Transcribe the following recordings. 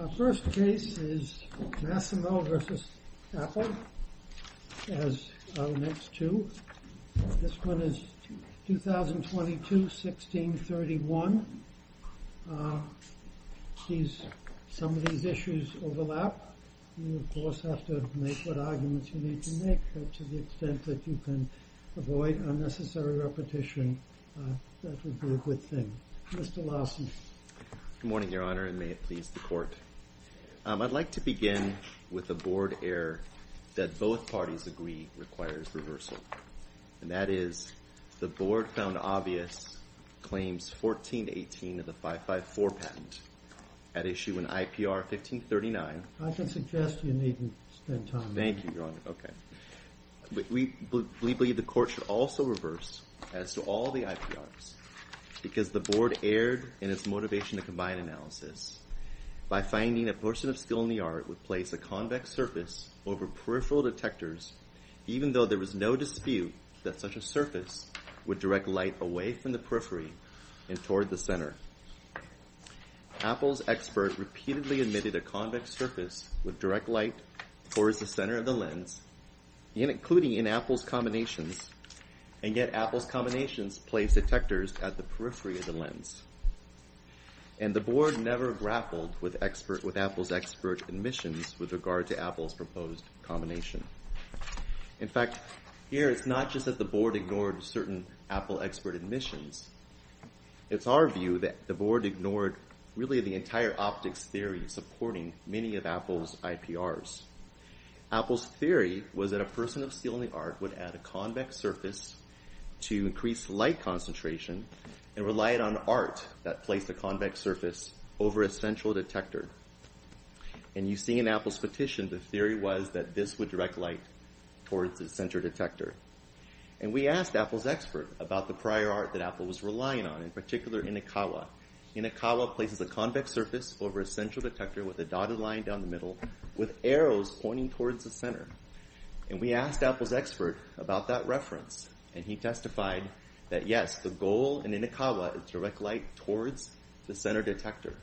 Our first case is Massimo v. Apple, as are the next two. This one is 2022-16-31. Some of these issues overlap. You, of course, have to make what arguments you need to make. But to the extent that you can avoid unnecessary repetition, that would be a good thing. Mr. Larson. Good morning, Your Honor, and may it please the Court. I'd like to begin with a board error that both parties agree requires reversal, and that is the Board found obvious claims 14-18 of the 554 patent at issue in IPR 1539. I can suggest you needn't spend time on that. Thank you, Your Honor. Okay. We believe the Court should also reverse as to all the IPRs because the Board erred in its motivation to combine analysis by finding a person of skill in the art would place a convex surface over peripheral detectors even though there was no dispute that such a surface would direct light away from the periphery and toward the center. Apple's expert repeatedly admitted a convex surface would direct light towards the center of the lens, including in Apple's combinations, and yet Apple's combinations placed detectors at the periphery of the lens. And the Board never grappled with Apple's expert admissions with regard to Apple's proposed combination. In fact, here it's not just that the Board ignored certain Apple expert admissions. It's our view that the Board ignored really the entire optics theory supporting many of Apple's IPRs. Apple's theory was that a person of skill in the art would add a convex surface to increase light concentration and relied on art that placed a convex surface over a central detector. And you see in Apple's petition the theory was that this would direct light towards the center detector. And we asked Apple's expert about the prior art that Apple was relying on, in particular Inokawa. Inokawa places a convex surface over a central detector with a dotted line down the middle with arrows pointing towards the center. And we asked Apple's expert about that reference. And he testified that, yes, the goal in Inokawa is to direct light towards the center detector.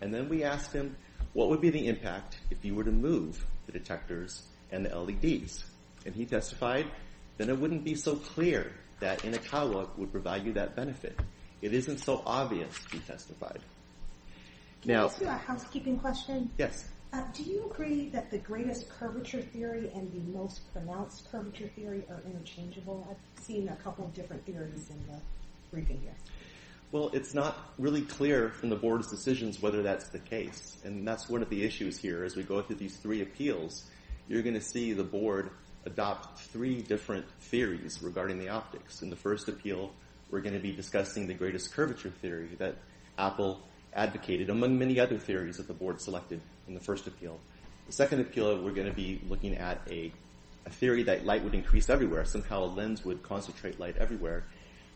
And then we asked him, what would be the impact if you were to move the detectors and the LEDs? And he testified that it wouldn't be so clear that Inokawa would provide you that benefit. It isn't so obvious, he testified. Can I ask you a housekeeping question? Yes. Do you agree that the greatest curvature theory and the most pronounced curvature theory are interchangeable? I've seen a couple of different theories in the briefing here. Well, it's not really clear from the board's decisions whether that's the case. And that's one of the issues here. As we go through these three appeals, you're going to see the board adopt three different theories regarding the optics. In the first appeal, we're going to be discussing the greatest curvature theory that Apple advocated, among many other theories that the board selected in the first appeal. The second appeal, we're going to be looking at a theory that light would increase everywhere. Somehow a lens would concentrate light everywhere.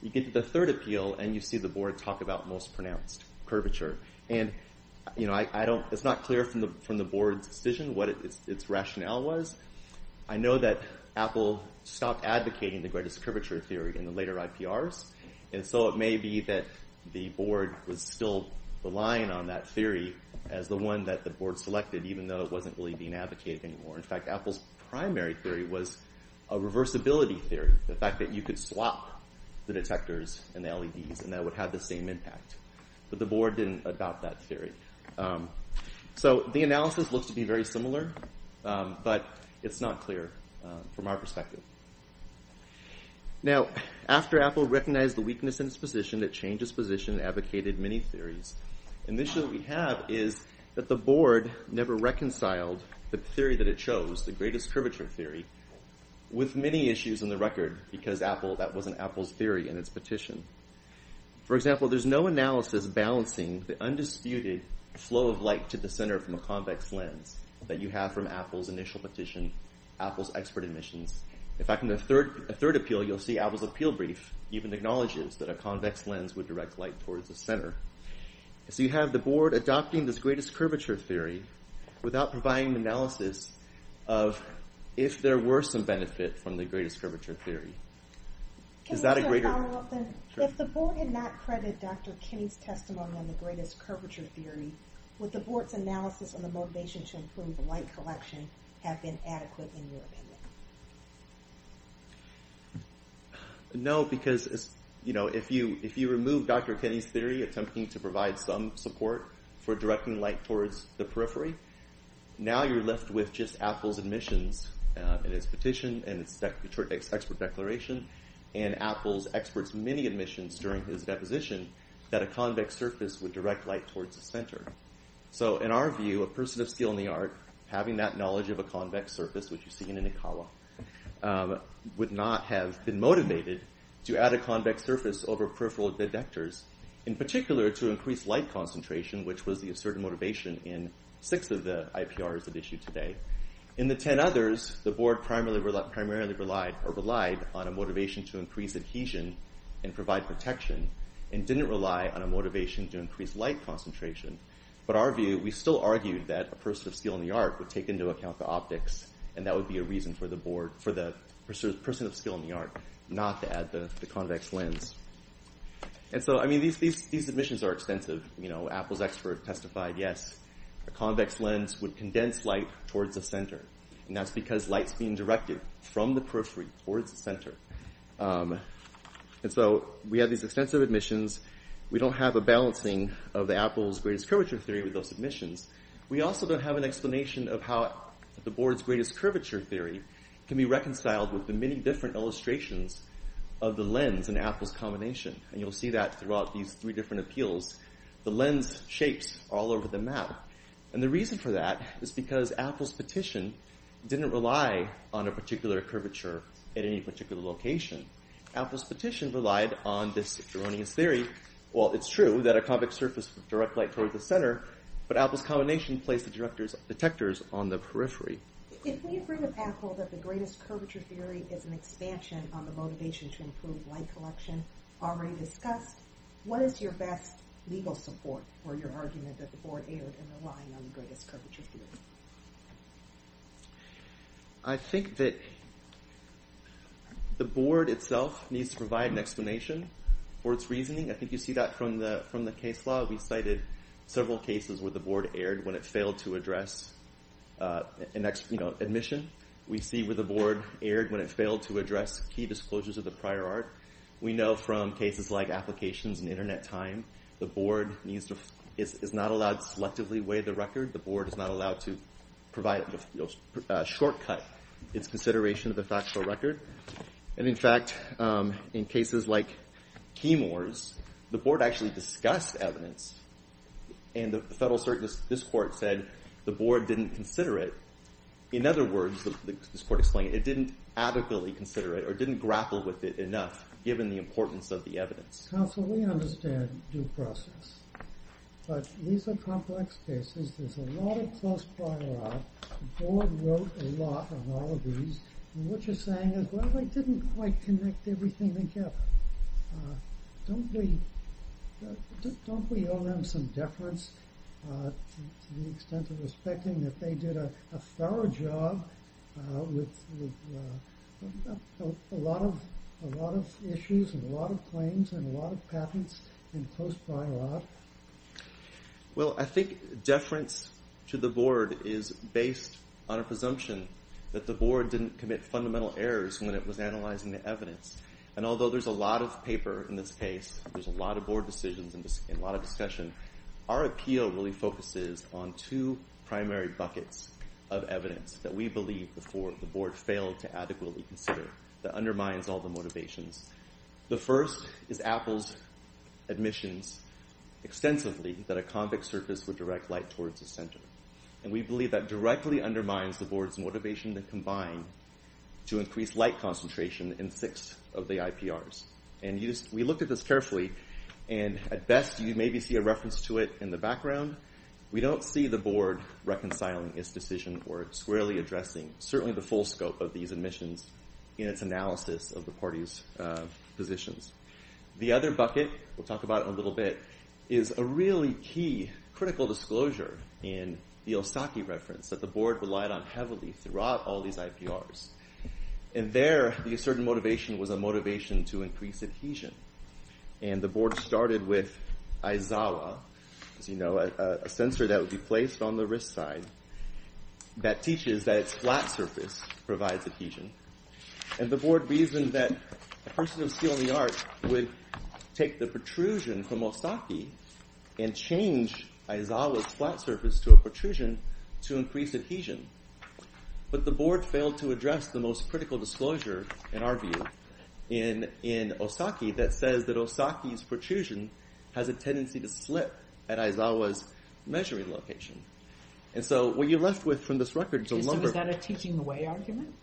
You get to the third appeal, and you see the board talk about most pronounced curvature. And it's not clear from the board's decision what its rationale was. I know that Apple stopped advocating the greatest curvature theory in the later IPRs, and so it may be that the board was still relying on that theory as the one that the board selected, even though it wasn't really being advocated anymore. In fact, Apple's primary theory was a reversibility theory, the fact that you could swap the detectors and the LEDs, and that would have the same impact. But the board didn't adopt that theory. So the analysis looks to be very similar, but it's not clear from our perspective. Now, after Apple recognized the weakness in its position, it changed its position and advocated many theories. And the issue that we have is that the board never reconciled the theory that it chose, the greatest curvature theory, with many issues in the record, because that wasn't Apple's theory in its petition. For example, there's no analysis balancing the undisputed flow of light to the center from a convex lens that you have from Apple's initial petition, Apple's expert admissions. In fact, in the third appeal, you'll see Apple's appeal brief even acknowledges that a convex lens would direct light towards the center. So you have the board adopting this greatest curvature theory without providing an analysis of if there were some benefit from the greatest curvature theory. Is that a greater... If the board did not credit Dr. Kinney's testimony on the greatest curvature theory, would the board's analysis on the motivation to improve light collection have been adequate in your opinion? No, because if you remove Dr. Kinney's theory attempting to provide some support for directing light towards the periphery, now you're left with just Apple's admissions in its petition and its expert declaration, and Apple's experts' many admissions during his deposition that a convex surface would direct light towards the center. So in our view, a person of skill in the art, having that knowledge of a convex surface, which you see in an Acala, would not have been motivated to add a convex surface over peripheral detectors, in particular to increase light concentration, which was the asserted motivation in six of the IPRs at issue today. In the ten others, the board primarily relied on a motivation to increase adhesion and provide protection, and didn't rely on a motivation to increase light concentration. But our view, we still argued that a person of skill in the art would take into account the optics, and that would be a reason for the person of skill in the art not to add the convex lens. And so, I mean, these admissions are extensive. Apple's expert testified, yes, a convex lens would condense light towards the center, and that's because light's being directed from the periphery towards the center. And so we have these extensive admissions. We don't have a balancing of Apple's greatest curvature theory with those admissions. We also don't have an explanation of how the board's greatest curvature theory can be reconciled with the many different illustrations of the lens in Apple's combination. And you'll see that throughout these three different appeals. The lens shapes all over the map. And the reason for that is because Apple's petition didn't rely on a particular curvature at any particular location. Apple's petition relied on this erroneous theory. Well, it's true that a convex surface would direct light towards the center, but Apple's combination placed the detectors on the periphery. If we agree with Apple that the greatest curvature theory is an expansion on the motivation to improve light collection already discussed, what is your best legal support for your argument that the board erred in relying on the greatest curvature theory? I think that the board itself needs to provide an explanation for its reasoning. I think you see that from the case law. We cited several cases where the board erred when it failed to address an admission. We see where the board erred when it failed to address key disclosures of the prior art. We know from cases like applications and Internet time, the board is not allowed to selectively weigh the record. The board is not allowed to provide a shortcut. It's consideration of the factual record. And, in fact, in cases like Keymore's, the board actually discussed evidence, and the federal court said the board didn't consider it. In other words, as the court explained, it didn't adequately consider it or didn't grapple with it enough given the importance of the evidence. Counsel, we understand due process, but these are complex cases. There's a lot of close prior art. The board wrote a lot on all of these. And what you're saying is, well, they didn't quite connect everything together. Don't we owe them some deference to the extent of respecting that they did a thorough job with a lot of issues and a lot of claims and a lot of patents in close prior art? Well, I think deference to the board is based on a presumption that the board didn't commit fundamental errors when it was analyzing the evidence. And although there's a lot of paper in this case, there's a lot of board decisions and a lot of discussion, our appeal really focuses on two primary buckets of evidence that we believe the board failed to adequately consider that undermines all the motivations. The first is Apple's admissions extensively that a convex surface would direct light towards the center. And we believe that directly undermines the board's motivation to combine to increase light concentration in six of the IPRs. And we looked at this carefully, and at best you maybe see a reference to it in the background. We don't see the board reconciling its decision or squarely addressing certainly the full scope of these admissions in its analysis of the party's positions. The other bucket, we'll talk about it in a little bit, is a really key critical disclosure in the Osaki reference that the board relied on heavily throughout all these IPRs. And there, the assertive motivation was a motivation to increase adhesion. And the board started with Aizawa, as you know, a sensor that would be placed on the wrist side that teaches that its flat surface provides adhesion. And the board reasoned that a person of steel in the art would take the protrusion from Osaki and change Aizawa's flat surface to a protrusion to increase adhesion. But the board failed to address the most critical disclosure, in our view, in Osaki that says that Osaki's protrusion has a tendency to slip at Aizawa's measuring location. And so what you're left with from this record is a number of... So is that a teaching away argument?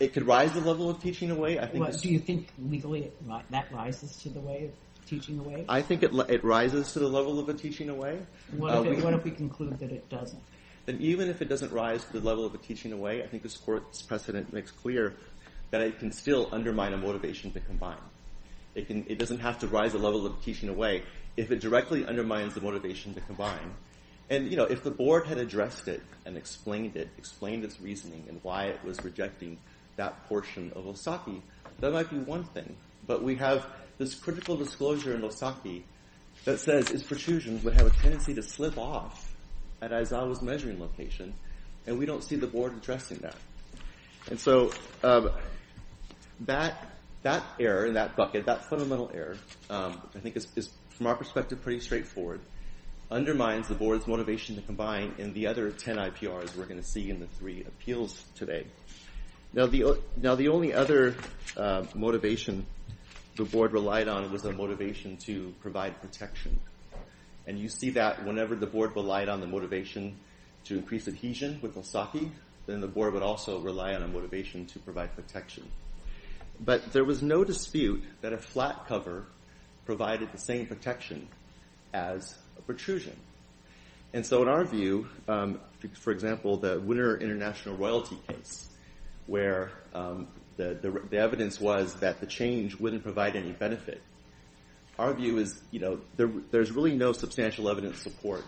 It could rise the level of teaching away. Do you think legally that rises to the way of teaching away? I think it rises to the level of a teaching away. What if we conclude that it doesn't? Then even if it doesn't rise to the level of a teaching away, I think this court's precedent makes clear that it can still undermine a motivation to combine. It doesn't have to rise the level of teaching away if it directly undermines the motivation to combine. And, you know, if the board had addressed it and explained it, explained its reasoning and why it was rejecting that portion of Osaki, that might be one thing. But we have this critical disclosure in Osaki that says its protrusions would have a tendency to slip off at Aizawa's measuring location, and we don't see the board addressing that. And so that error in that bucket, that fundamental error, I think is, from our perspective, pretty straightforward, undermines the board's motivation to combine in the other 10 IPRs we're going to see in the three appeals today. Now, the only other motivation the board relied on was the motivation to provide protection. And you see that whenever the board relied on the motivation to increase adhesion with Osaki, then the board would also rely on a motivation to provide protection. But there was no dispute that a flat cover provided the same protection as a protrusion. And so in our view, for example, the Winter International Royalty case, where the evidence was that the change wouldn't provide any benefit, our view is, you know, there's really no substantial evidence support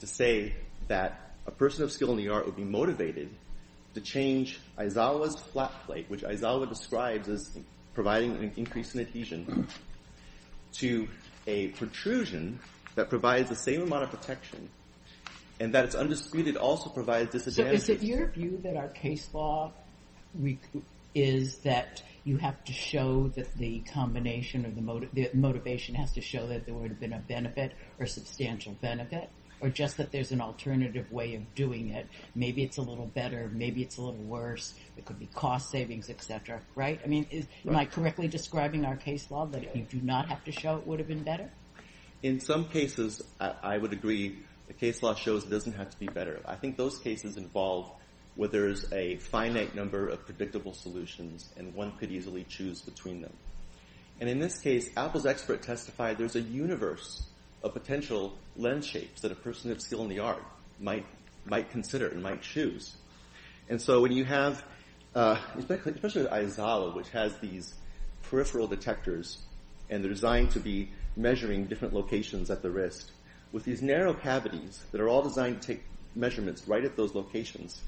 to say that a person of skill in the art would be motivated to change Aizawa's flat plate, which Aizawa describes as providing an increase in adhesion, to a protrusion that provides the same amount of protection and that it's undisputed also provides disadvantage. So is it your view that our case law is that you have to show that the combination of the motivation has to show that there would have been a benefit or substantial benefit, or just that there's an alternative way of doing it? Maybe it's a little better, maybe it's a little worse. It could be cost savings, et cetera, right? Am I correctly describing our case law that if you do not have to show it would have been better? In some cases, I would agree, the case law shows it doesn't have to be better. I think those cases involve where there's a finite number of predictable solutions and one could easily choose between them. And in this case, Apple's expert testified there's a universe of potential lens shapes that a person of skill in the art might consider and might choose. And so when you have, especially with Aizawa, which has these peripheral detectors and they're designed to be measuring different locations at the wrist, with these narrow cavities that are all designed to take measurements right at those locations,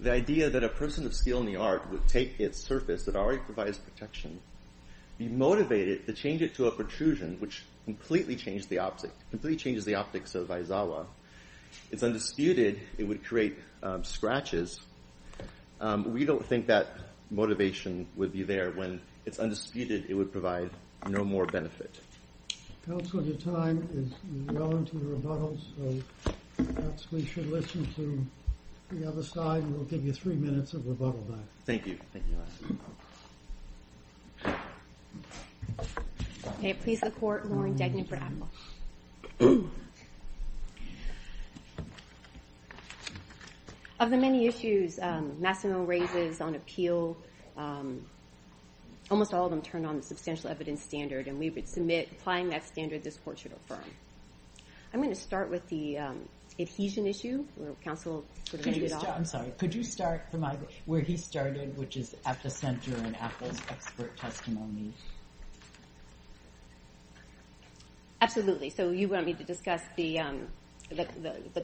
the idea that a person of skill in the art would take its surface that already provides protection, be motivated to change it to a protrusion, which completely changes the optics of Aizawa, it's undisputed it would create scratches. We don't think that motivation would be there. When it's undisputed, it would provide no more benefit. Counsel, your time is well into rebuttals, so perhaps we should listen to the other side and we'll give you three minutes of rebuttal time. Thank you. May it please the Court, Lauren Degnan for Apple. Of the many issues Massimo raises on appeal, almost all of them turn on the substantial evidence standard, and we would submit applying that standard this Court should affirm. I'm going to start with the adhesion issue, where Counsel sort of made it up. I'm sorry, could you start from where he started, which is at the center in Apple's expert testimony? Absolutely. So you want me to discuss the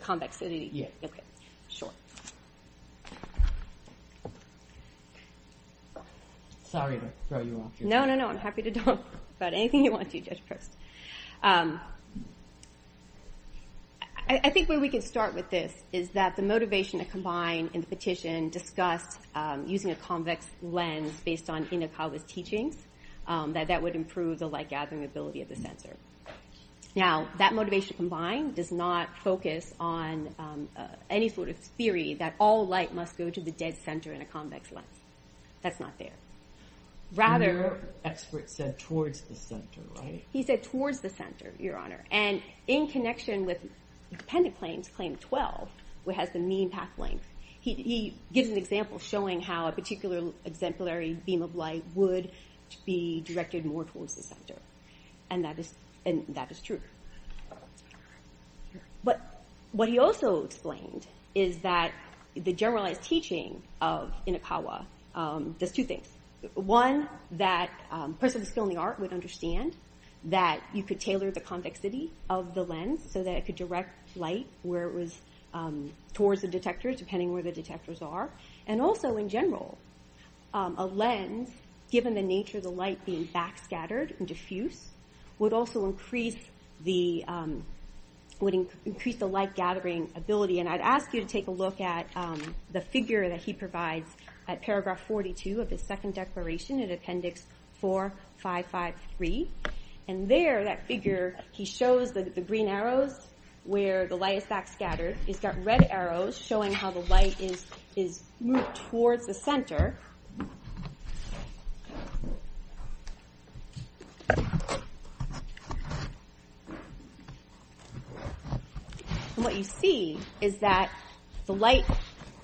convexity? Yeah. Okay, sure. Sorry to throw you off your... No, no, no. I'm happy to talk about anything you want to, Judge Proust. I think where we can start with this is that the motivation to combine in the petition discussed using a convex lens based on Inokawa's teachings, that that would improve the light-gathering ability of the center. Now, that motivation combined does not focus on any sort of theory that all light must go to the dead center in a convex lens. That's not there. Rather... Your expert said towards the center, right? He said towards the center, Your Honor. And in connection with dependent claims, claim 12, which has the mean path length, he gives an example showing how a particular exemplary beam of light would be directed more towards the center. And that is true. But what he also explained is that the generalized teaching of Inokawa does two things. One, that a person with a skill in the art would understand that you could tailor the convexity of the lens so that it could direct light where it was towards the detector, depending where the detectors are. And also, in general, a lens, given the nature of the light being backscattered and diffuse, would also increase the light-gathering ability. And I'd ask you to take a look at the figure that he provides at paragraph 42 of his second declaration, in appendix 4553. And there, that figure, he shows the green arrows where the light is backscattered. He's got red arrows showing how the light is moved towards the center. And what you see is that the light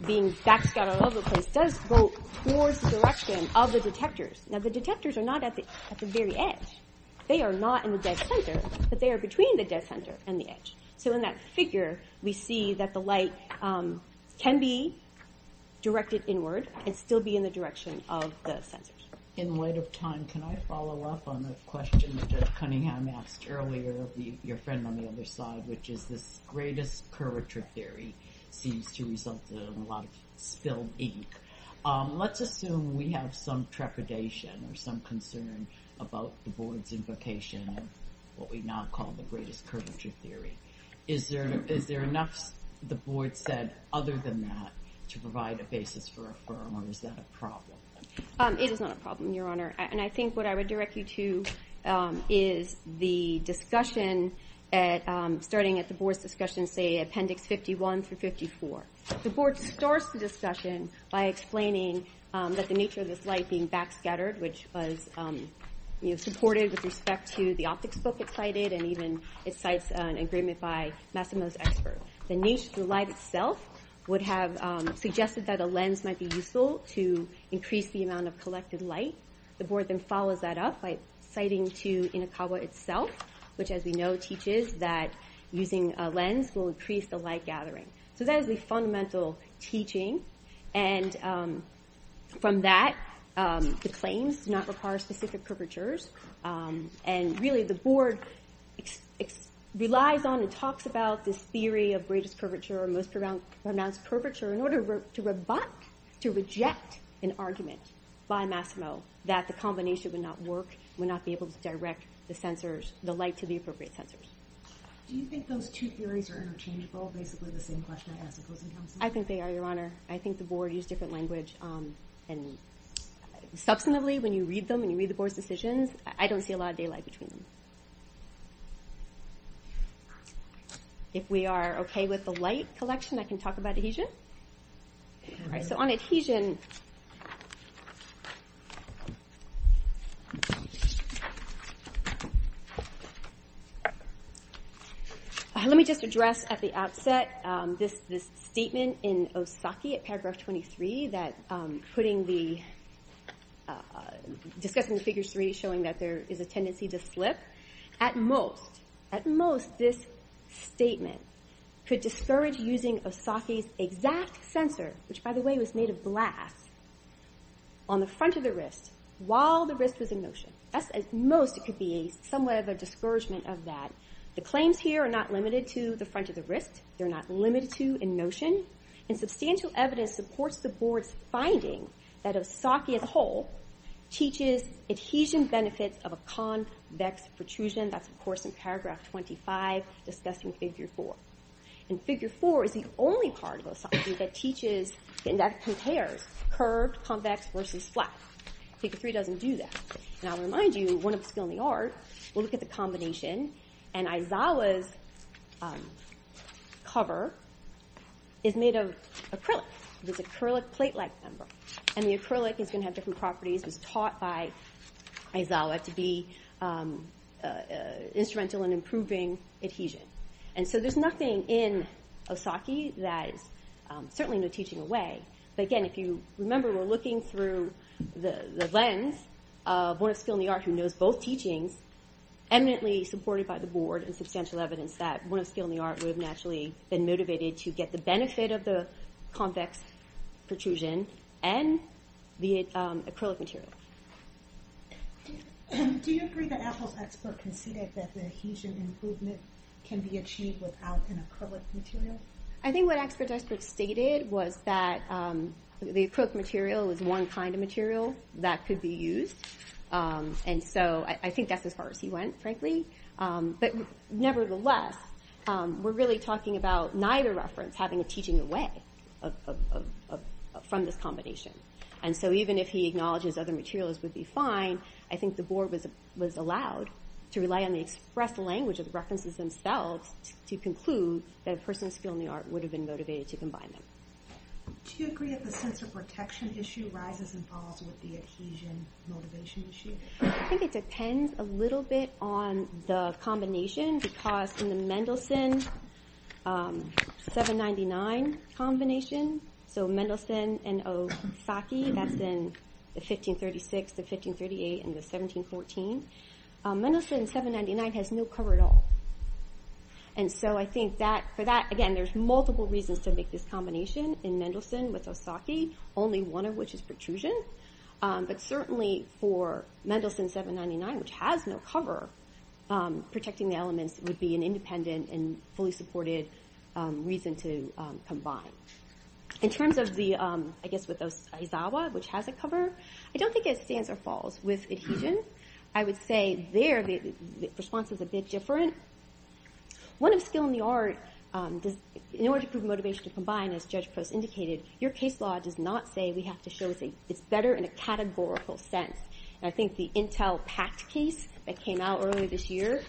being backscattered all over the place does go towards the direction of the detectors. Now, the detectors are not at the very edge. They are not in the dead center, but they are between the dead center and the edge. So in that figure, we see that the light can be directed inward and still be in the direction of the sensors. In light of time, can I follow up on the question that Judge Cunningham asked earlier of your friend on the other side, which is this greatest curvature theory seems to result in a lot of spilled ink. Let's assume we have some trepidation or some concern about the board's invocation of what we now call the greatest curvature theory. Is there enough, the board said, other than that to provide a basis for a firm, or is that a problem? It is not a problem, Your Honor. And I think what I would direct you to is the discussion, starting at the board's discussion, say, appendix 51 through 54. The board starts the discussion by explaining that the nature of this light being backscattered, which was supported with respect to the optics book it cited, and even it cites an agreement by Massimo's expert. The nature of the light itself would have suggested that a lens might be useful to increase the amount of collected light. The board then follows that up by citing to Inokawa itself, which, as we know, teaches that using a lens will increase the light gathering. So that is the fundamental teaching. And from that, the claims do not require specific curvatures. And really, the board relies on and talks about this theory of greatest curvature or most pronounced curvature in order to rebut, to reject an argument by Massimo that the combination would not work, would not be able to direct the light to the appropriate sensors. Do you think those two theories are interchangeable, basically the same question I asked the closing counsel? I think they are, Your Honor. I think the board used different language. And substantively, when you read them, when you read the board's decisions, I don't see a lot of daylight between them. If we are okay with the light collection, I can talk about adhesion. All right, so on adhesion... Let me just address at the outset this statement in Osaka at paragraph 23, discussing the figure three, showing that there is a tendency to slip. At most, this statement could discourage using Osaka's exact sensor, which, by the way, was made of glass, on the front of the wrist while the wrist was in motion. At most, it could be somewhat of a discouragement of that. The claims here are not limited to the front of the wrist. They're not limited to in motion. And substantial evidence supports the board's finding that Osaka as a whole teaches adhesion benefits of a convex protrusion. That's, of course, in paragraph 25, discussing figure four. And figure four is the only part of Osaka that teaches and that compares curved, convex versus flat. Figure three doesn't do that. And I'll remind you, one of the skill in the art, we'll look at the combination. And Aizawa's cover is made of acrylic. It's an acrylic plate-like member. And the acrylic is going to have different properties. It was taught by Aizawa to be instrumental in improving adhesion. And so there's nothing in Osaka that is certainly no teaching away. But again, if you remember, we're looking through the lens of one of the skill in the art who knows both teachings, eminently supported by the board and substantial evidence that one of the skill in the art would have naturally been motivated to get the benefit of the convex protrusion and the acrylic material. Do you agree that Apple's expert conceded that the adhesion improvement can be achieved without an acrylic material? I think what the expert stated was that the acrylic material is one kind of material that could be used. And so I think that's as far as he went, frankly. But nevertheless, we're really talking about neither reference having a teaching away from this combination. And so even if he acknowledges other materials would be fine, I think the board was allowed to rely on the express language of the references themselves to conclude that a person's skill in the art would have been motivated to combine them. Do you agree that the sense of protection issue rises and falls with the adhesion motivation issue? I think it depends a little bit on the combination because in the Mendelssohn 799 combination, so Mendelssohn and Osaki, that's in the 1536, the 1538, and the 1714. Mendelssohn's 799 has no cover at all. And so I think for that, again, there's multiple reasons to make this combination in Mendelssohn with Osaki, only one of which is protrusion. But certainly for Mendelssohn's 799, which has no cover, protecting the elements would be an independent and fully supported reason to combine. In terms of the, I guess, with those Aizawa, which has a cover, I don't think it stands or falls. With adhesion, I would say there the response is a bit different. One of skill in the art, in order to prove motivation to combine, as Judge Post indicated, your case law does not say we have to show it's better in a categorical sense. I think the Intel PACT case that came out earlier this year,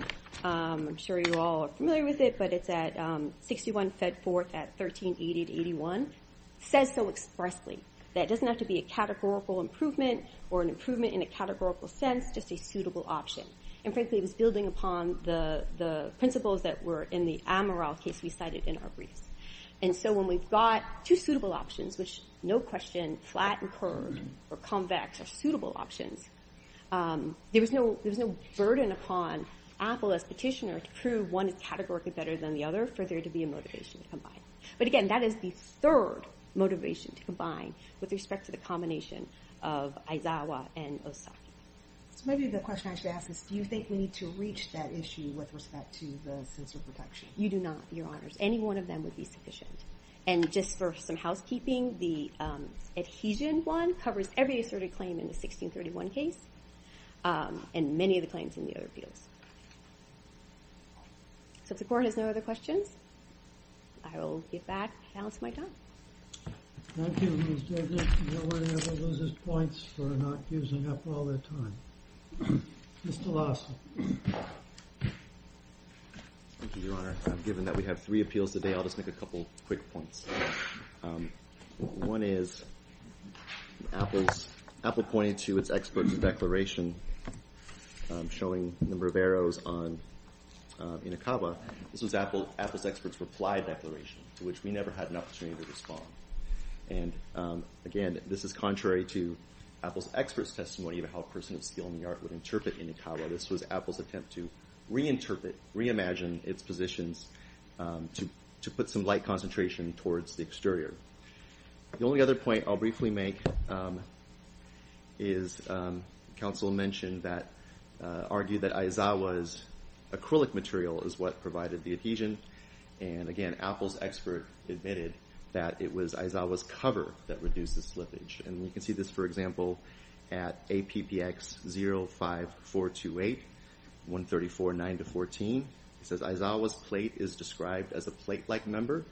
I'm sure you all are familiar with it, but it's at 61 Fedforth at 13881, says so expressly that it doesn't have to be a categorical improvement or an improvement in a categorical sense, just a suitable option. And frankly, it was building upon the principles that were in the Amaral case we cited in our briefs. And so when we've got two suitable options, which no question, flat and curved or convex are suitable options, there was no burden upon Apple as petitioner to prove one is categorically better than the other for there to be a motivation to combine. But again, that is the third motivation to combine with respect to the combination of Aizawa and Osaki. So maybe the question I should ask is, do you think we need to reach that issue with respect to the sensor protection? You do not, Your Honors. Any one of them would be sufficient. And just for some housekeeping, the adhesion one covers every asserted claim in the 1631 case and many of the claims in the other appeals. So if the Court has no other questions, I will get back to balance my time. Thank you, Ms. Douglas. No one ever loses points for not using up all their time. Mr. Lawson. Thank you, Your Honor. Given that we have three appeals today, I'll just make a couple quick points. One is Apple pointed to its experts' declaration showing the Riveros on Inokawa. This was Apple's experts' reply declaration to which we never had an opportunity to respond. And again, this is contrary to Apple's experts' testimony of how a person of skill in the art would interpret Inokawa. This was Apple's attempt to reinterpret, reimagine its positions to put some light concentration towards the exterior. The only other point I'll briefly make is counsel mentioned that, argued that Aizawa's acrylic material is what provided the adhesion. And again, Apple's expert admitted that it was Aizawa's cover that reduces slippage. And you can see this, for example, at APPX 05428, 134.9-14. It says Aizawa's plate is described as a plate-like member.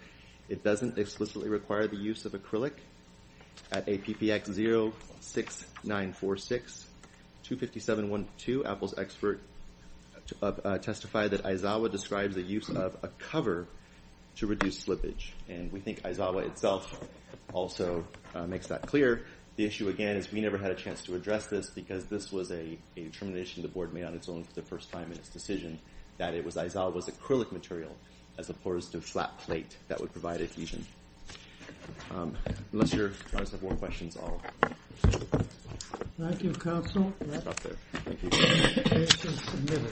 It doesn't explicitly require the use of acrylic. At APPX 06946, 257.12, Apple's expert testified that Aizawa describes the use of a cover to reduce slippage. And we think Aizawa itself also makes that clear. The issue, again, is we never had a chance to address this because this was a determination the board made on its own for the first time in its decision that it was Aizawa's acrylic material as opposed to flat plate that would provide adhesion. Unless you guys have more questions, I'll... Thank you, counsel. Stop there. Thank you.